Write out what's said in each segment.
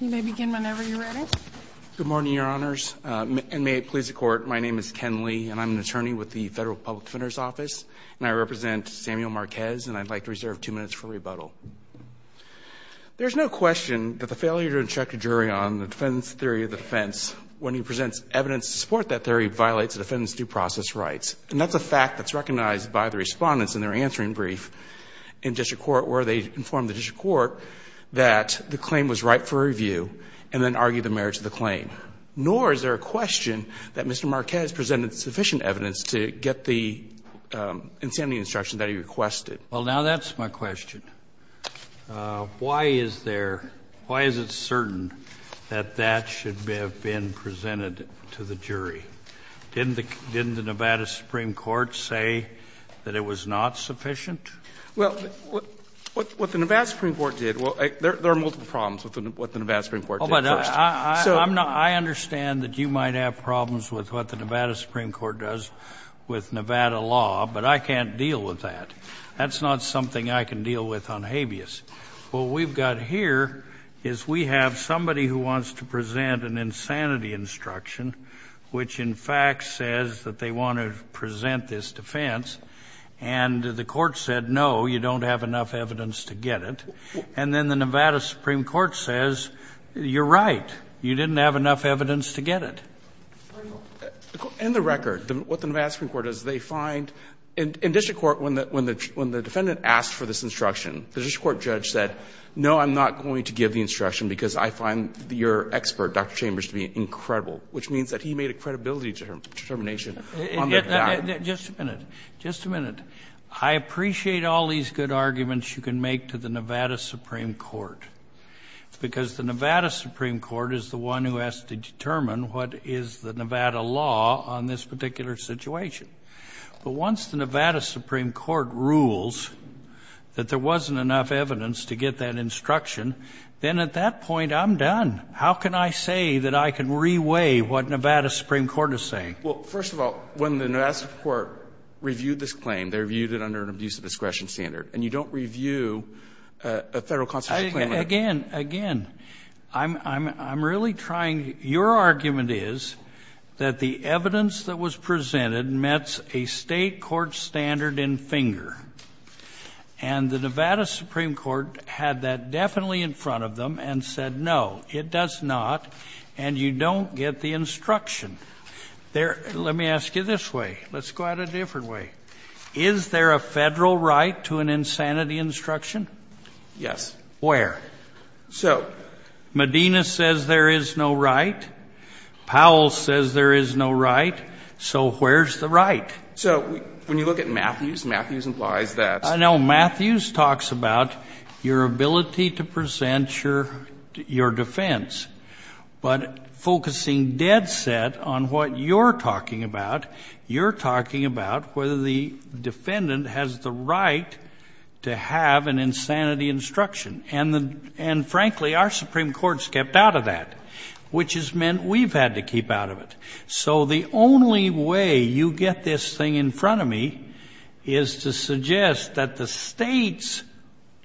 You may begin whenever you're ready. Good morning, Your Honors, and may it please the Court. My name is Ken Lee, and I'm an attorney with the Federal Public Defender's Office, and I represent Samuel Marquez, and I'd like to reserve two minutes for rebuttal. There's no question that the failure to instruct a jury on the defendant's theory of defense when he presents evidence to support that theory violates the defendant's due process rights, and that's a fact that's recognized by the respondents in their answering brief in district court where they inform the district court that the claim was right for review, and then argue the merits of the claim. Nor is there a question that Mr. Marquez presented sufficient evidence to get the insanity instruction that he requested. Well, now that's my question. Why is there — why is it certain that that should have been presented to the jury? Didn't the Nevada Supreme Court say that it was not sufficient? Well, what the Nevada Supreme Court did — well, there are multiple problems with what the Nevada Supreme Court did first. Oh, but I understand that you might have problems with what the Nevada Supreme Court does with Nevada law, but I can't deal with that. That's not something I can deal with on habeas. What we've got here is we have somebody who wants to present an insanity instruction, which in fact says that they want to present this defense, and the court said, no, you don't have enough evidence to get it, and then the Nevada Supreme Court says, you're right, you didn't have enough evidence to get it. In the record, what the Nevada Supreme Court does, they find — in district court, when the defendant asked for this instruction, the district court judge said, no, I'm not going to give the instruction because I find your expert, Dr. Chambers, to be incredible, which means that he made a credibility determination on the doubt. Just a minute. Just a minute. I appreciate all these good arguments you can make to the Nevada Supreme Court, because the Nevada Supreme Court is the one who has to determine what is the Nevada law on this particular situation. But once the Nevada Supreme Court rules that there wasn't enough evidence to get that instruction, then at that point, I'm done. How can I say that I can reweigh what Nevada Supreme Court is saying? Well, first of all, when the Nevada Supreme Court reviewed this claim, they reviewed it under an abuse of discretion standard, and you don't review a Federal constitutional claim like that. Again, again, I'm really trying — your argument is that the evidence that was presented met a State court standard in finger, and the Nevada Supreme Court had that definitely in front of them and said, no, it does not, and you don't get the instruction. There — let me ask you this way. Let's go at it a different way. Is there a Federal right to an insanity instruction? Yes. Where? So — Medina says there is no right. Powell says there is no right. So where's the right? So when you look at Matthews, Matthews implies that — I know. Matthews talks about your ability to present your defense. But focusing dead set on what you're talking about, you're talking about whether the defendant has the right to have an insanity instruction. And frankly, our Supreme Court's kept out of that, which has meant we've had to keep out of it. So the only way you get this thing in front of me is to suggest that the State's,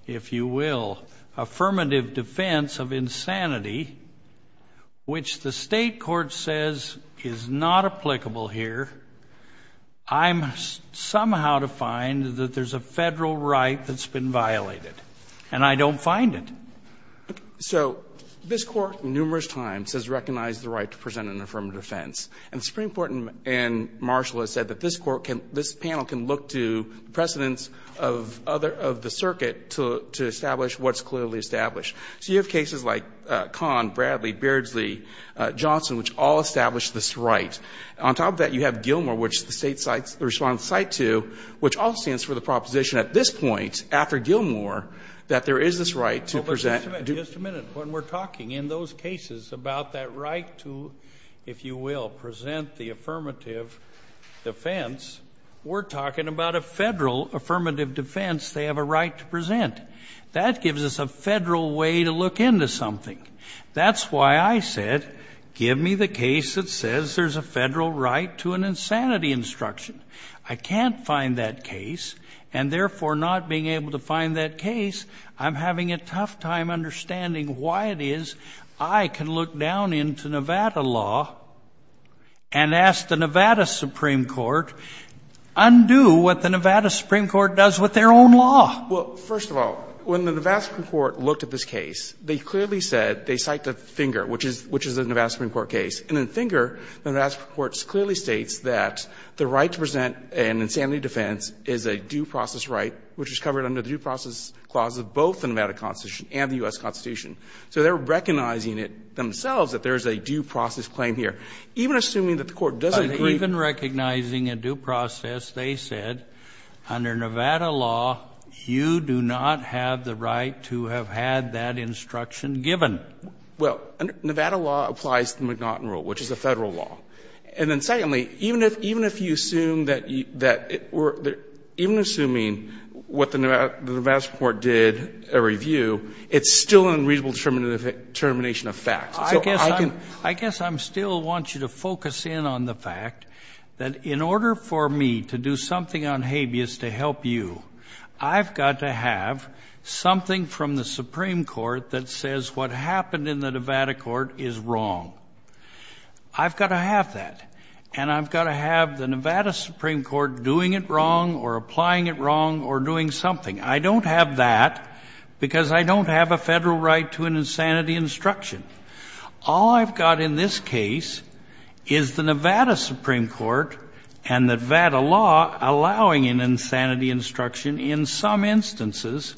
if you will, affirmative defense of insanity, which the State court says is not applicable here, I'm somehow to find that there's a Federal right that's been violated. And I don't find it. So this Court numerous times has recognized the right to present an affirmative defense. And the Supreme Court and Marshall have said that this Court can — this panel can look to precedents of other — of the circuit to establish what's clearly So you have cases like Kahn, Bradley, Beardsley, Johnson, which all establish this right. On top of that, you have Gilmour, which the State responds to, which all stands for the proposition at this point, after Gilmour, that there is this right to present — Well, but just a minute. Just a minute. When we're talking in those cases about that right to, if you will, present the affirmative defense, we're talking about a Federal affirmative defense they have a right to present. That gives us a Federal way to look into something. That's why I said, give me the case that says there's a Federal right to an insanity instruction. I can't find that case, and therefore not being able to find that case, I'm having a tough time understanding why it is I can look down into Nevada law and ask the Nevada Supreme Court, undo what the Nevada Supreme Court does with their own law. Well, first of all, when the Nevada Supreme Court looked at this case, they clearly said — they cite the Finger, which is — which is a Nevada Supreme Court case. And in Finger, the Nevada Supreme Court clearly states that the right to present an insanity defense is a due process right, which is covered under the due process clause of both the Nevada Constitution and the U.S. Constitution. So they're recognizing it themselves that there is a due process claim here. Even assuming that the Court doesn't agree — But even recognizing a due process, they said, under Nevada law, you do not have the right to have had that instruction given. Well, Nevada law applies to the McNaughton Rule, which is a Federal law. And then secondly, even if — even if you assume that — even assuming what the Nevada Supreme Court did, a review, it's still an unreasonable determination of facts. So I can — I guess I'm — I guess I still want you to focus in on the fact that in order for me to do something on habeas to help you, I've got to have something from the Supreme Court that says what happened in the Nevada court is wrong. I've got to have that. And I've got to have the Nevada Supreme Court doing it wrong or applying it wrong or doing something. I don't have that because I don't have a Federal right to an insanity instruction. All I've got in this case is the Nevada Supreme Court and the Nevada law allowing an insanity instruction in some instances,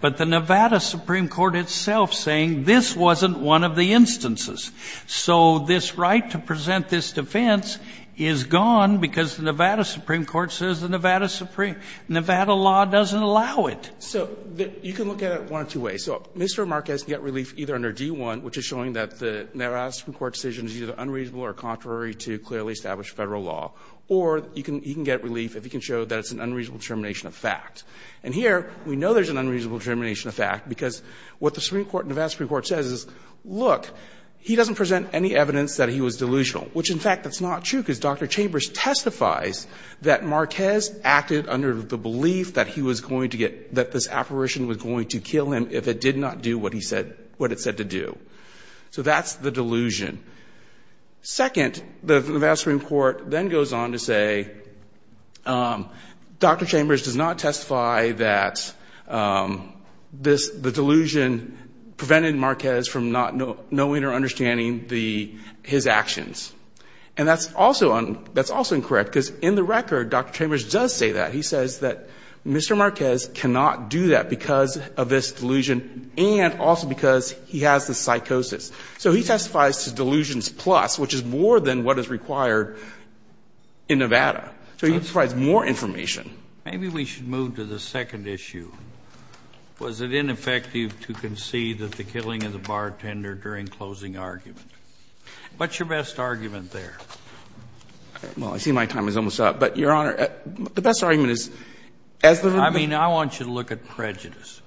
but the Nevada Supreme Court itself saying this wasn't one of the instances. So this right to present this defense is gone because the Nevada Supreme Court says Nevada law doesn't allow it. So you can look at it one of two ways. So Mr. Marquez can get relief either under D-1, which is showing that the Nevada Supreme Court decision is either unreasonable or contrary to clearly established Federal law, or you can — he can get relief if he can show that it's an unreasonable determination of fact. And here, we know there's an unreasonable determination of fact because what the Supreme Court and Nevada Supreme Court says is, look, he doesn't present any evidence that he was delusional, which, in fact, that's not true because Dr. Chambers testifies that Marquez acted under the belief that he was going to get — that this apparition was going to kill him if it did not do what he said — what it said to do. So that's the delusion. Second, the Nevada Supreme Court then goes on to say, Dr. Chambers does not testify that this — the delusion prevented Marquez from not knowing or understanding the — his actions. And that's also on — that's also incorrect, because in the record, Dr. Chambers does say that. He says that Mr. Marquez cannot do that because of this delusion and also because he has the psychosis. So he testifies to delusions plus, which is more than what is required in Nevada. So he provides more information. Kennedy, maybe we should move to the second issue. Was it ineffective to concede that the killing of the bartender during closing argument? What's your best argument there? Well, I see my time is almost up. But, Your Honor, the best argument is, as the — I mean, I want you to look at prejudice.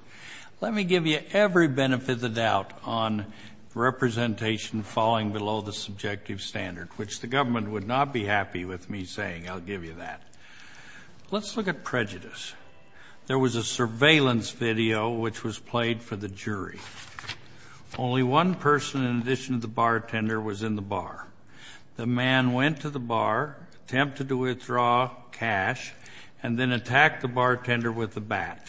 Let me give you every benefit of the doubt on representation falling below the subjective standard, which the government would not be happy with me saying. I'll give you that. Let's look at prejudice. There was a surveillance video which was played for the jury. Only one person in addition to the bartender was in the bar. The man went to the bar, attempted to withdraw cash, and then attacked the bartender with a bat.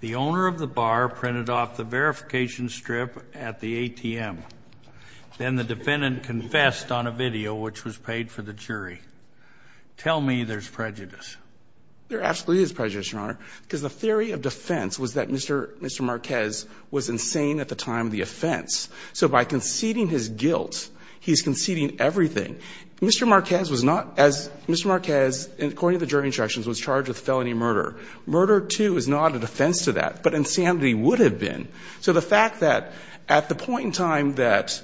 The owner of the bar printed off the verification strip at the ATM. Then the defendant confessed on a video which was played for the jury. Tell me there's prejudice. There absolutely is prejudice, Your Honor, because the theory of defense was that he was insane at the time of the offense. So by conceding his guilt, he's conceding everything. Mr. Marquez was not as — Mr. Marquez, according to the jury instructions, was charged with felony murder. Murder, too, is not a defense to that. But insanity would have been. So the fact that at the point in time that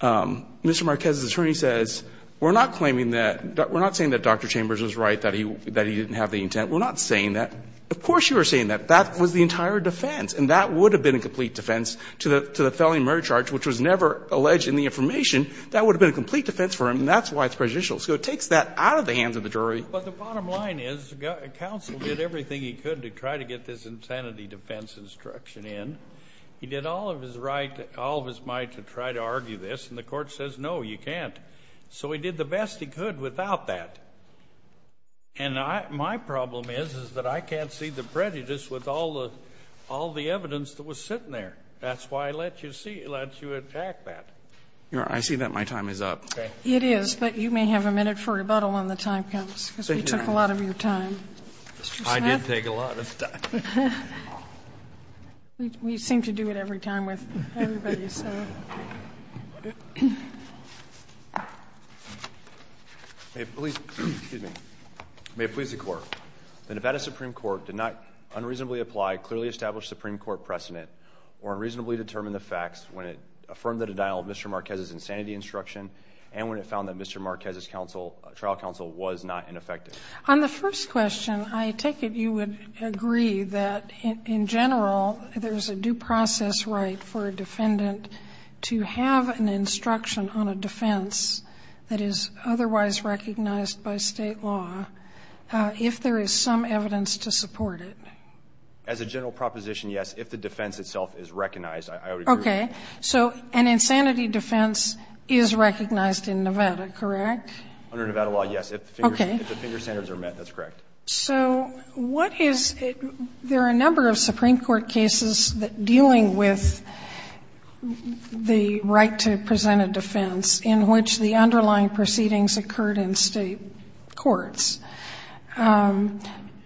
Mr. Marquez's attorney says, we're not claiming that — we're not saying that Dr. Chambers was right, that he didn't have the intent. We're not saying that. Of course you were saying that. That was the entire defense. And that would have been a complete defense to the felony murder charge, which was never alleged in the information. That would have been a complete defense for him. And that's why it's prejudicial. So it takes that out of the hands of the jury. But the bottom line is counsel did everything he could to try to get this insanity defense instruction in. He did all of his right — all of his might to try to argue this. And the Court says, no, you can't. So he did the best he could without that. And my problem is, is that I can't see the prejudice with all the — all the evidence that was sitting there. That's why I let you see — let you attack that. I see that my time is up. It is. But you may have a minute for rebuttal when the time comes, because we took a lot of your time. Mr. Smith? I did take a lot of time. We seem to do it every time with everybody, so. May it please the Court. The Nevada Supreme Court did not unreasonably apply clearly established Supreme Court precedent or unreasonably determine the facts when it affirmed the denial of Mr. Marquez's insanity instruction and when it found that Mr. Marquez's trial counsel was not ineffective. On the first question, I take it you would agree that, in general, there's a due process right for a defendant to have an instruction on a defense that is otherwise recognized by state law if there is some evidence to support it. As a general proposition, yes. If the defense itself is recognized, I would agree. Okay. So an insanity defense is recognized in Nevada, correct? Under Nevada law, yes. Okay. If the finger standards are met, that's correct. So what is it? There are a number of Supreme Court cases dealing with the right to present a defense in which the underlying proceedings occurred in state courts.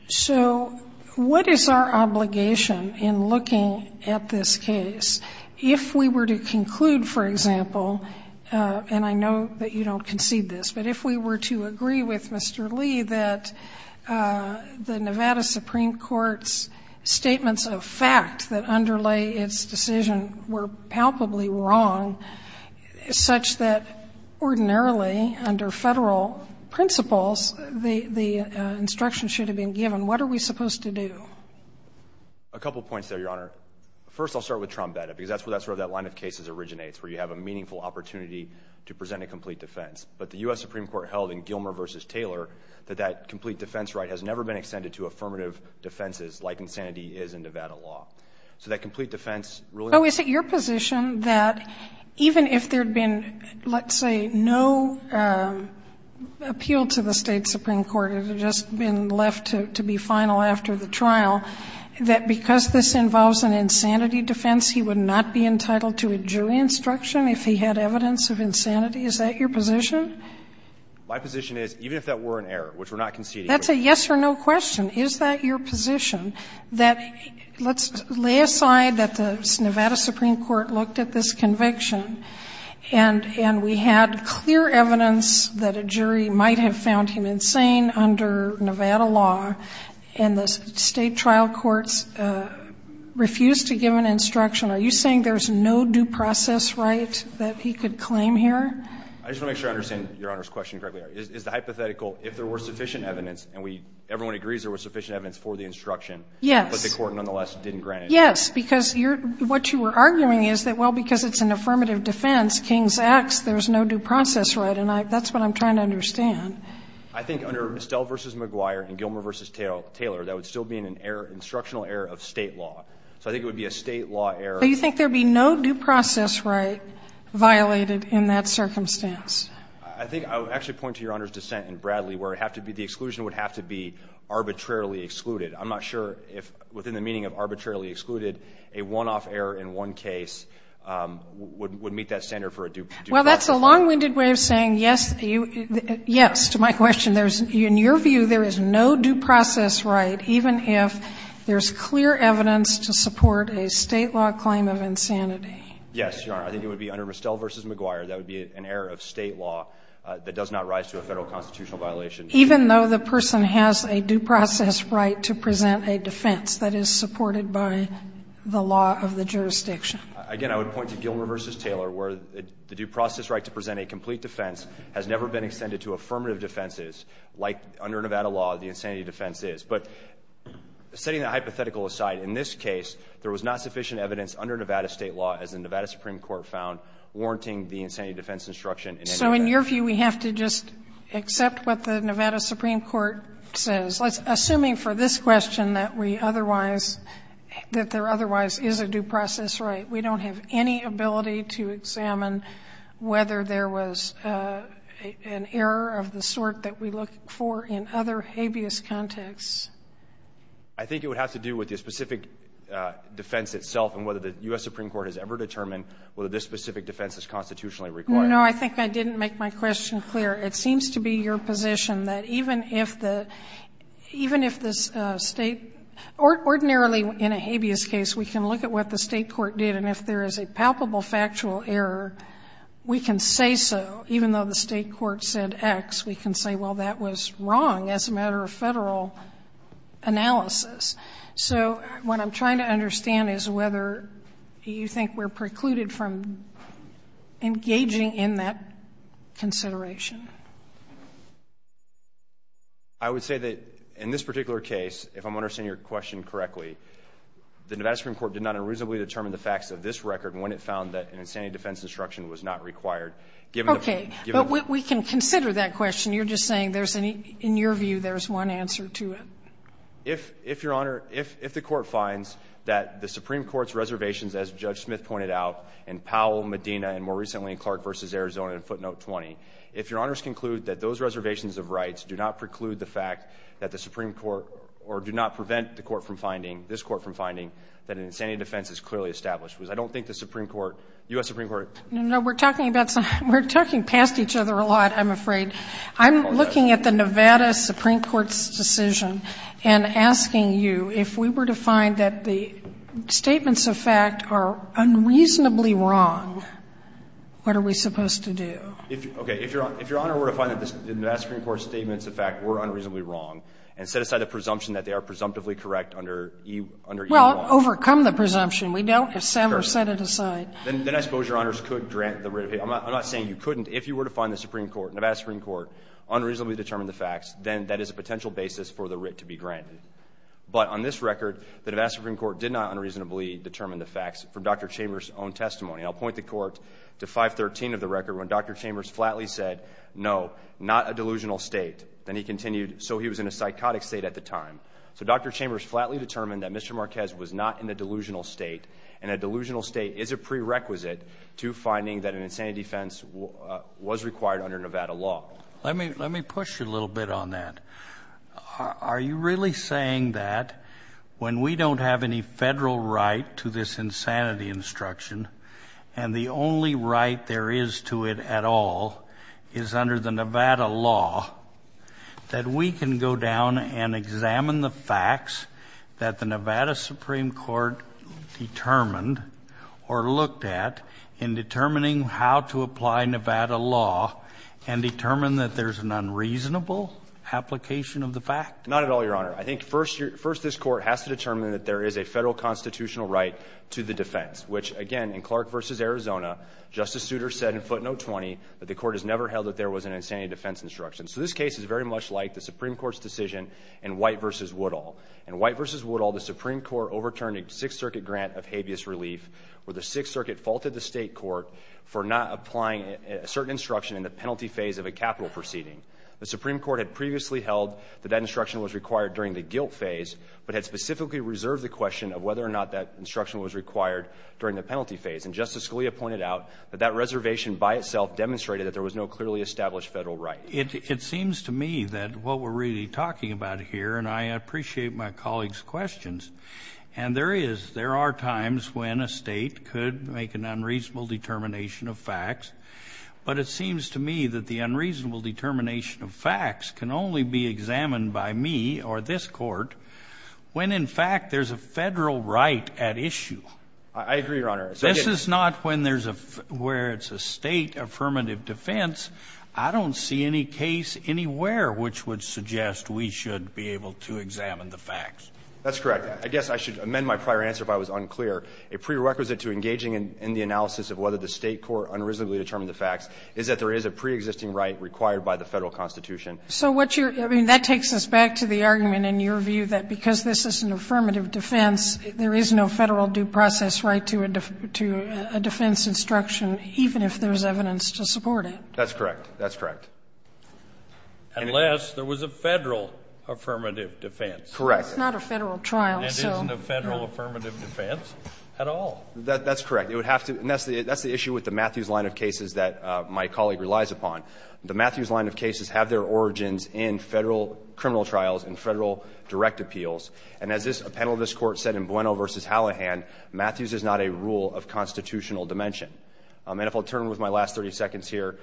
So what is our obligation in looking at this case? If we were to conclude, for example, and I know that you don't concede this, but if we were to agree with Mr. Lee that the Nevada Supreme Court's statements of fact that underlay its decision were palpably wrong, such that ordinarily, under Federal principles, the instruction should have been given, what are we supposed to do? A couple points there, Your Honor. First, I'll start with Trombetta, because that's where that line of cases originates, where you have a meaningful opportunity to present a complete defense. But the U.S. Supreme Court held in Gilmer v. Taylor that that complete defense right has never been extended to affirmative defenses like insanity is in Nevada law. So that complete defense really doesn't exist. So is it your position that even if there had been, let's say, no appeal to the State Supreme Court, it had just been left to be final after the trial, that because this involves an insanity defense, he would not be entitled to a jury instruction if he had evidence of insanity? Is that your position? My position is, even if that were an error, which we're not conceding here. That's a yes or no question. Is that your position, that let's lay aside that the Nevada Supreme Court looked at this conviction, and we had clear evidence that a jury might have found him insane under Nevada law, and the State trial courts refused to give an instruction? Are you saying there's no due process right that he could claim here? I just want to make sure I understand Your Honor's question correctly. Is the hypothetical, if there were sufficient evidence, and we, everyone agrees there was sufficient evidence for the instruction. Yes. But the court nonetheless didn't grant it. Yes. Because you're, what you were arguing is that, well, because it's an affirmative defense, King's X, there's no due process right. And I, that's what I'm trying to understand. I think under Stell v. McGuire and Gilmer v. Taylor, that would still be an error, instructional error of State law. So I think it would be a State law error. But you think there would be no due process right violated in that circumstance? I think I would actually point to Your Honor's dissent in Bradley where it would have to be, the exclusion would have to be arbitrarily excluded. I'm not sure if within the meaning of arbitrarily excluded, a one-off error in one case would meet that standard for a due process right. Well, that's a long-winded way of saying yes, yes to my question. And there's, in your view, there is no due process right, even if there's clear evidence to support a State law claim of insanity. Yes, Your Honor. I think it would be under Stell v. McGuire, that would be an error of State law that does not rise to a Federal constitutional violation. Even though the person has a due process right to present a defense that is supported by the law of the jurisdiction. Again, I would point to Gilmer v. Taylor where the due process right to present a complete defense has never been extended to affirmative defenses, like under Nevada law the insanity defense is. But setting that hypothetical aside, in this case, there was not sufficient evidence under Nevada State law, as the Nevada Supreme Court found, warranting the insanity defense instruction in any way. So in your view, we have to just accept what the Nevada Supreme Court says. Assuming for this question that we otherwise, that there otherwise is a due process right, we don't have any ability to examine whether there was an error of the sort that we look for in other habeas contexts. I think it would have to do with the specific defense itself and whether the U.S. Supreme Court has ever determined whether this specific defense is constitutionally required. No, I think I didn't make my question clear. It seems to be your position that even if the, even if the State, ordinarily in a habeas case, we can look at what the State court did and if there is a palpable factual error, we can say so, even though the State court said X, we can say, well, that was wrong as a matter of Federal analysis. So what I'm trying to understand is whether you think we're precluded from engaging in that consideration. I would say that in this particular case, if I'm understanding your question correctly, the Nevada Supreme Court did not unreasonably determine the facts of this record when it found that an insanity defense instruction was not required. Okay. But we can consider that question. You're just saying there's any, in your view, there's one answer to it. If, Your Honor, if the Court finds that the Supreme Court's reservations, as Judge Smith pointed out, in Powell, Medina, and more recently in Clark v. Arizona in footnote 20, if Your Honors conclude that those reservations of rights do not preclude the fact that the Supreme Court, or do not prevent the Court from finding, this Court from finding, that an insanity defense is clearly established, because I don't think the Supreme Court, U.S. Supreme Court. No, we're talking about something. We're talking past each other a lot, I'm afraid. I'm looking at the Nevada Supreme Court's decision and asking you, if we were to find that the statements of fact are unreasonably wrong, what are we supposed to do? Okay. If Your Honor were to find that the Nevada Supreme Court's statements of fact were unreasonably wrong, and set aside the presumption that they are presumptively correct under E1. Well, overcome the presumption. We don't, if Sam were to set it aside. Then I suppose Your Honors could grant the writ. I'm not saying you couldn't. If you were to find the Supreme Court, Nevada Supreme Court, unreasonably determined the facts, then that is a potential basis for the writ to be granted. But on this record, the Nevada Supreme Court did not unreasonably determine the facts from Dr. Chambers' own testimony. I'll point the court to 513 of the record when Dr. Chambers flatly said, no, not a delusional state. Then he continued, so he was in a psychotic state at the time. So Dr. Chambers flatly determined that Mr. Marquez was not in a delusional state. And a delusional state is a prerequisite to finding that an insanity defense was required under Nevada law. Let me push you a little bit on that. Are you really saying that when we don't have any federal right to this insanity instruction and the only right there is to it at all is under the Nevada law, that we can go down and examine the facts that the Nevada Supreme Court determined or looked at in determining how to apply Nevada law and determine that there's an unreasonable application of the fact? Not at all, Your Honor. I think first this Court has to determine that there is a federal constitutional right to the defense, which, again, in Clark v. Arizona, Justice Souter said in footnote 20 that the Court has never held that there was an insanity defense instruction. So this case is very much like the Supreme Court's decision in White v. Woodall. In White v. Woodall, the Supreme Court overturned a Sixth Circuit grant of habeas relief where the Sixth Circuit faulted the State court for not applying a certain instruction in the penalty phase of a capital proceeding. The Supreme Court had previously held that that instruction was required during the guilt phase, but had specifically reserved the question of whether or not that instruction was required during the penalty phase. And Justice Scalia pointed out that that reservation by itself demonstrated that there was no clearly established federal right. It seems to me that what we're really talking about here, and I appreciate my colleagues' questions, and there are times when a State could make an unreasonable determination of facts, but it seems to me that the unreasonable determination of facts can only be examined by me or this Court when, in fact, there's a federal right at issue. I agree, Your Honor. This is not when there's a — where it's a State affirmative defense. I don't see any case anywhere which would suggest we should be able to examine the facts. That's correct. I guess I should amend my prior answer if I was unclear. A prerequisite to engaging in the analysis of whether the State court unreasonably determined the facts is that there is a preexisting right required by the Federal Constitution. So what you're — I mean, that takes us back to the argument in your view that because this is an affirmative defense, there is no Federal due process right to a defense instruction, even if there's evidence to support it. That's correct. That's correct. Unless there was a Federal affirmative defense. Correct. It's not a Federal trial, so. It's not a Federal affirmative defense at all. That's correct. And that's the issue with the Matthews line of cases that my colleague relies upon. The Matthews line of cases have their origins in Federal criminal trials and Federal direct appeals. And as a panel of this Court said in Bueno v. Hallahan, Matthews is not a rule of constitutional dimension. And if I'll turn with my last 30 seconds here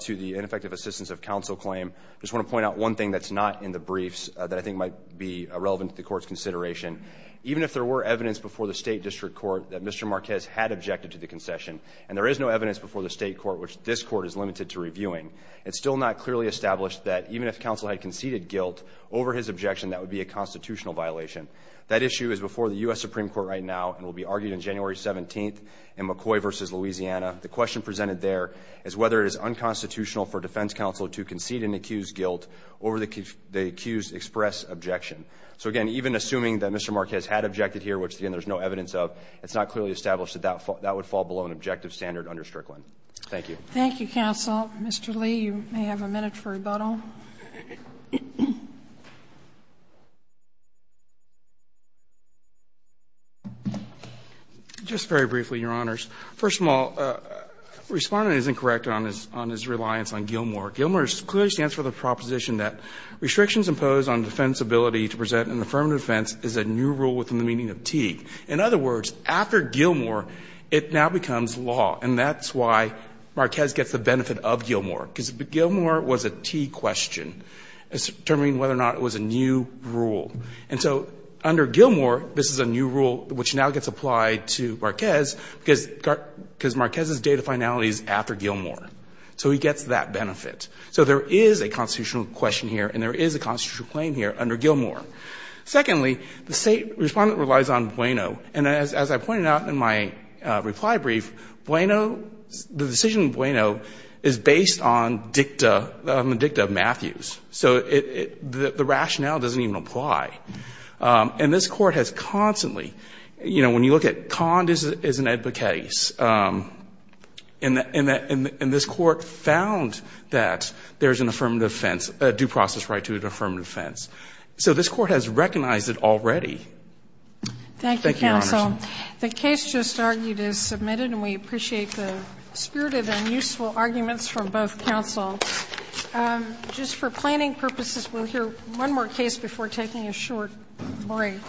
to the ineffective assistance of counsel claim, I just want to point out one thing that's not in the briefs that I think might be relevant to the Court's consideration. Even if there were evidence before the State District Court that Mr. Marquez had objected to the concession, and there is no evidence before the State Court which this Court is limited to reviewing, it's still not clearly established that even if counsel had conceded guilt over his objection, that would be a constitutional violation. That issue is before the U.S. Supreme Court right now and will be argued in January 17th in McCoy v. Louisiana. The question presented there is whether it is unconstitutional for defense counsel to concede and accuse guilt over the accused express objection. So, again, even assuming that Mr. Marquez had objected here, which, again, there's no evidence of, it's not clearly established that that would fall below an objective standard under Strickland. Thank you. Thank you, counsel. Mr. Lee, you may have a minute for rebuttal. Just very briefly, Your Honors. First of all, the Respondent is incorrect on his reliance on Gilmore. Gilmore clearly stands for the proposition that restrictions imposed on defense's ability to present an affirmative defense is a new rule within the meaning of Teague. In other words, after Gilmore, it now becomes law. And that's why Marquez gets the benefit of Gilmore, because Gilmore was a Teague question determining whether or not it was a new rule. And so under Gilmore, this is a new rule which now gets applied to Marquez because Marquez's date of finality is after Gilmore. So he gets that benefit. So there is a constitutional question here and there is a constitutional claim here under Gilmore. Secondly, the State Respondent relies on Bueno. And as I pointed out in my reply brief, Bueno, the decision in Bueno is based on dicta of Matthews. So the rationale doesn't even apply. And this Court has constantly, you know, when you look at Conde as an advocate case, and this Court found that there is an affirmative defense, a due process right to an affirmative defense. So this Court has recognized it already. Thank you, Your Honors. The case just argued is submitted, and we appreciate the spirited and useful arguments from both counsels. Just for planning purposes, we'll hear one more case before taking a short break.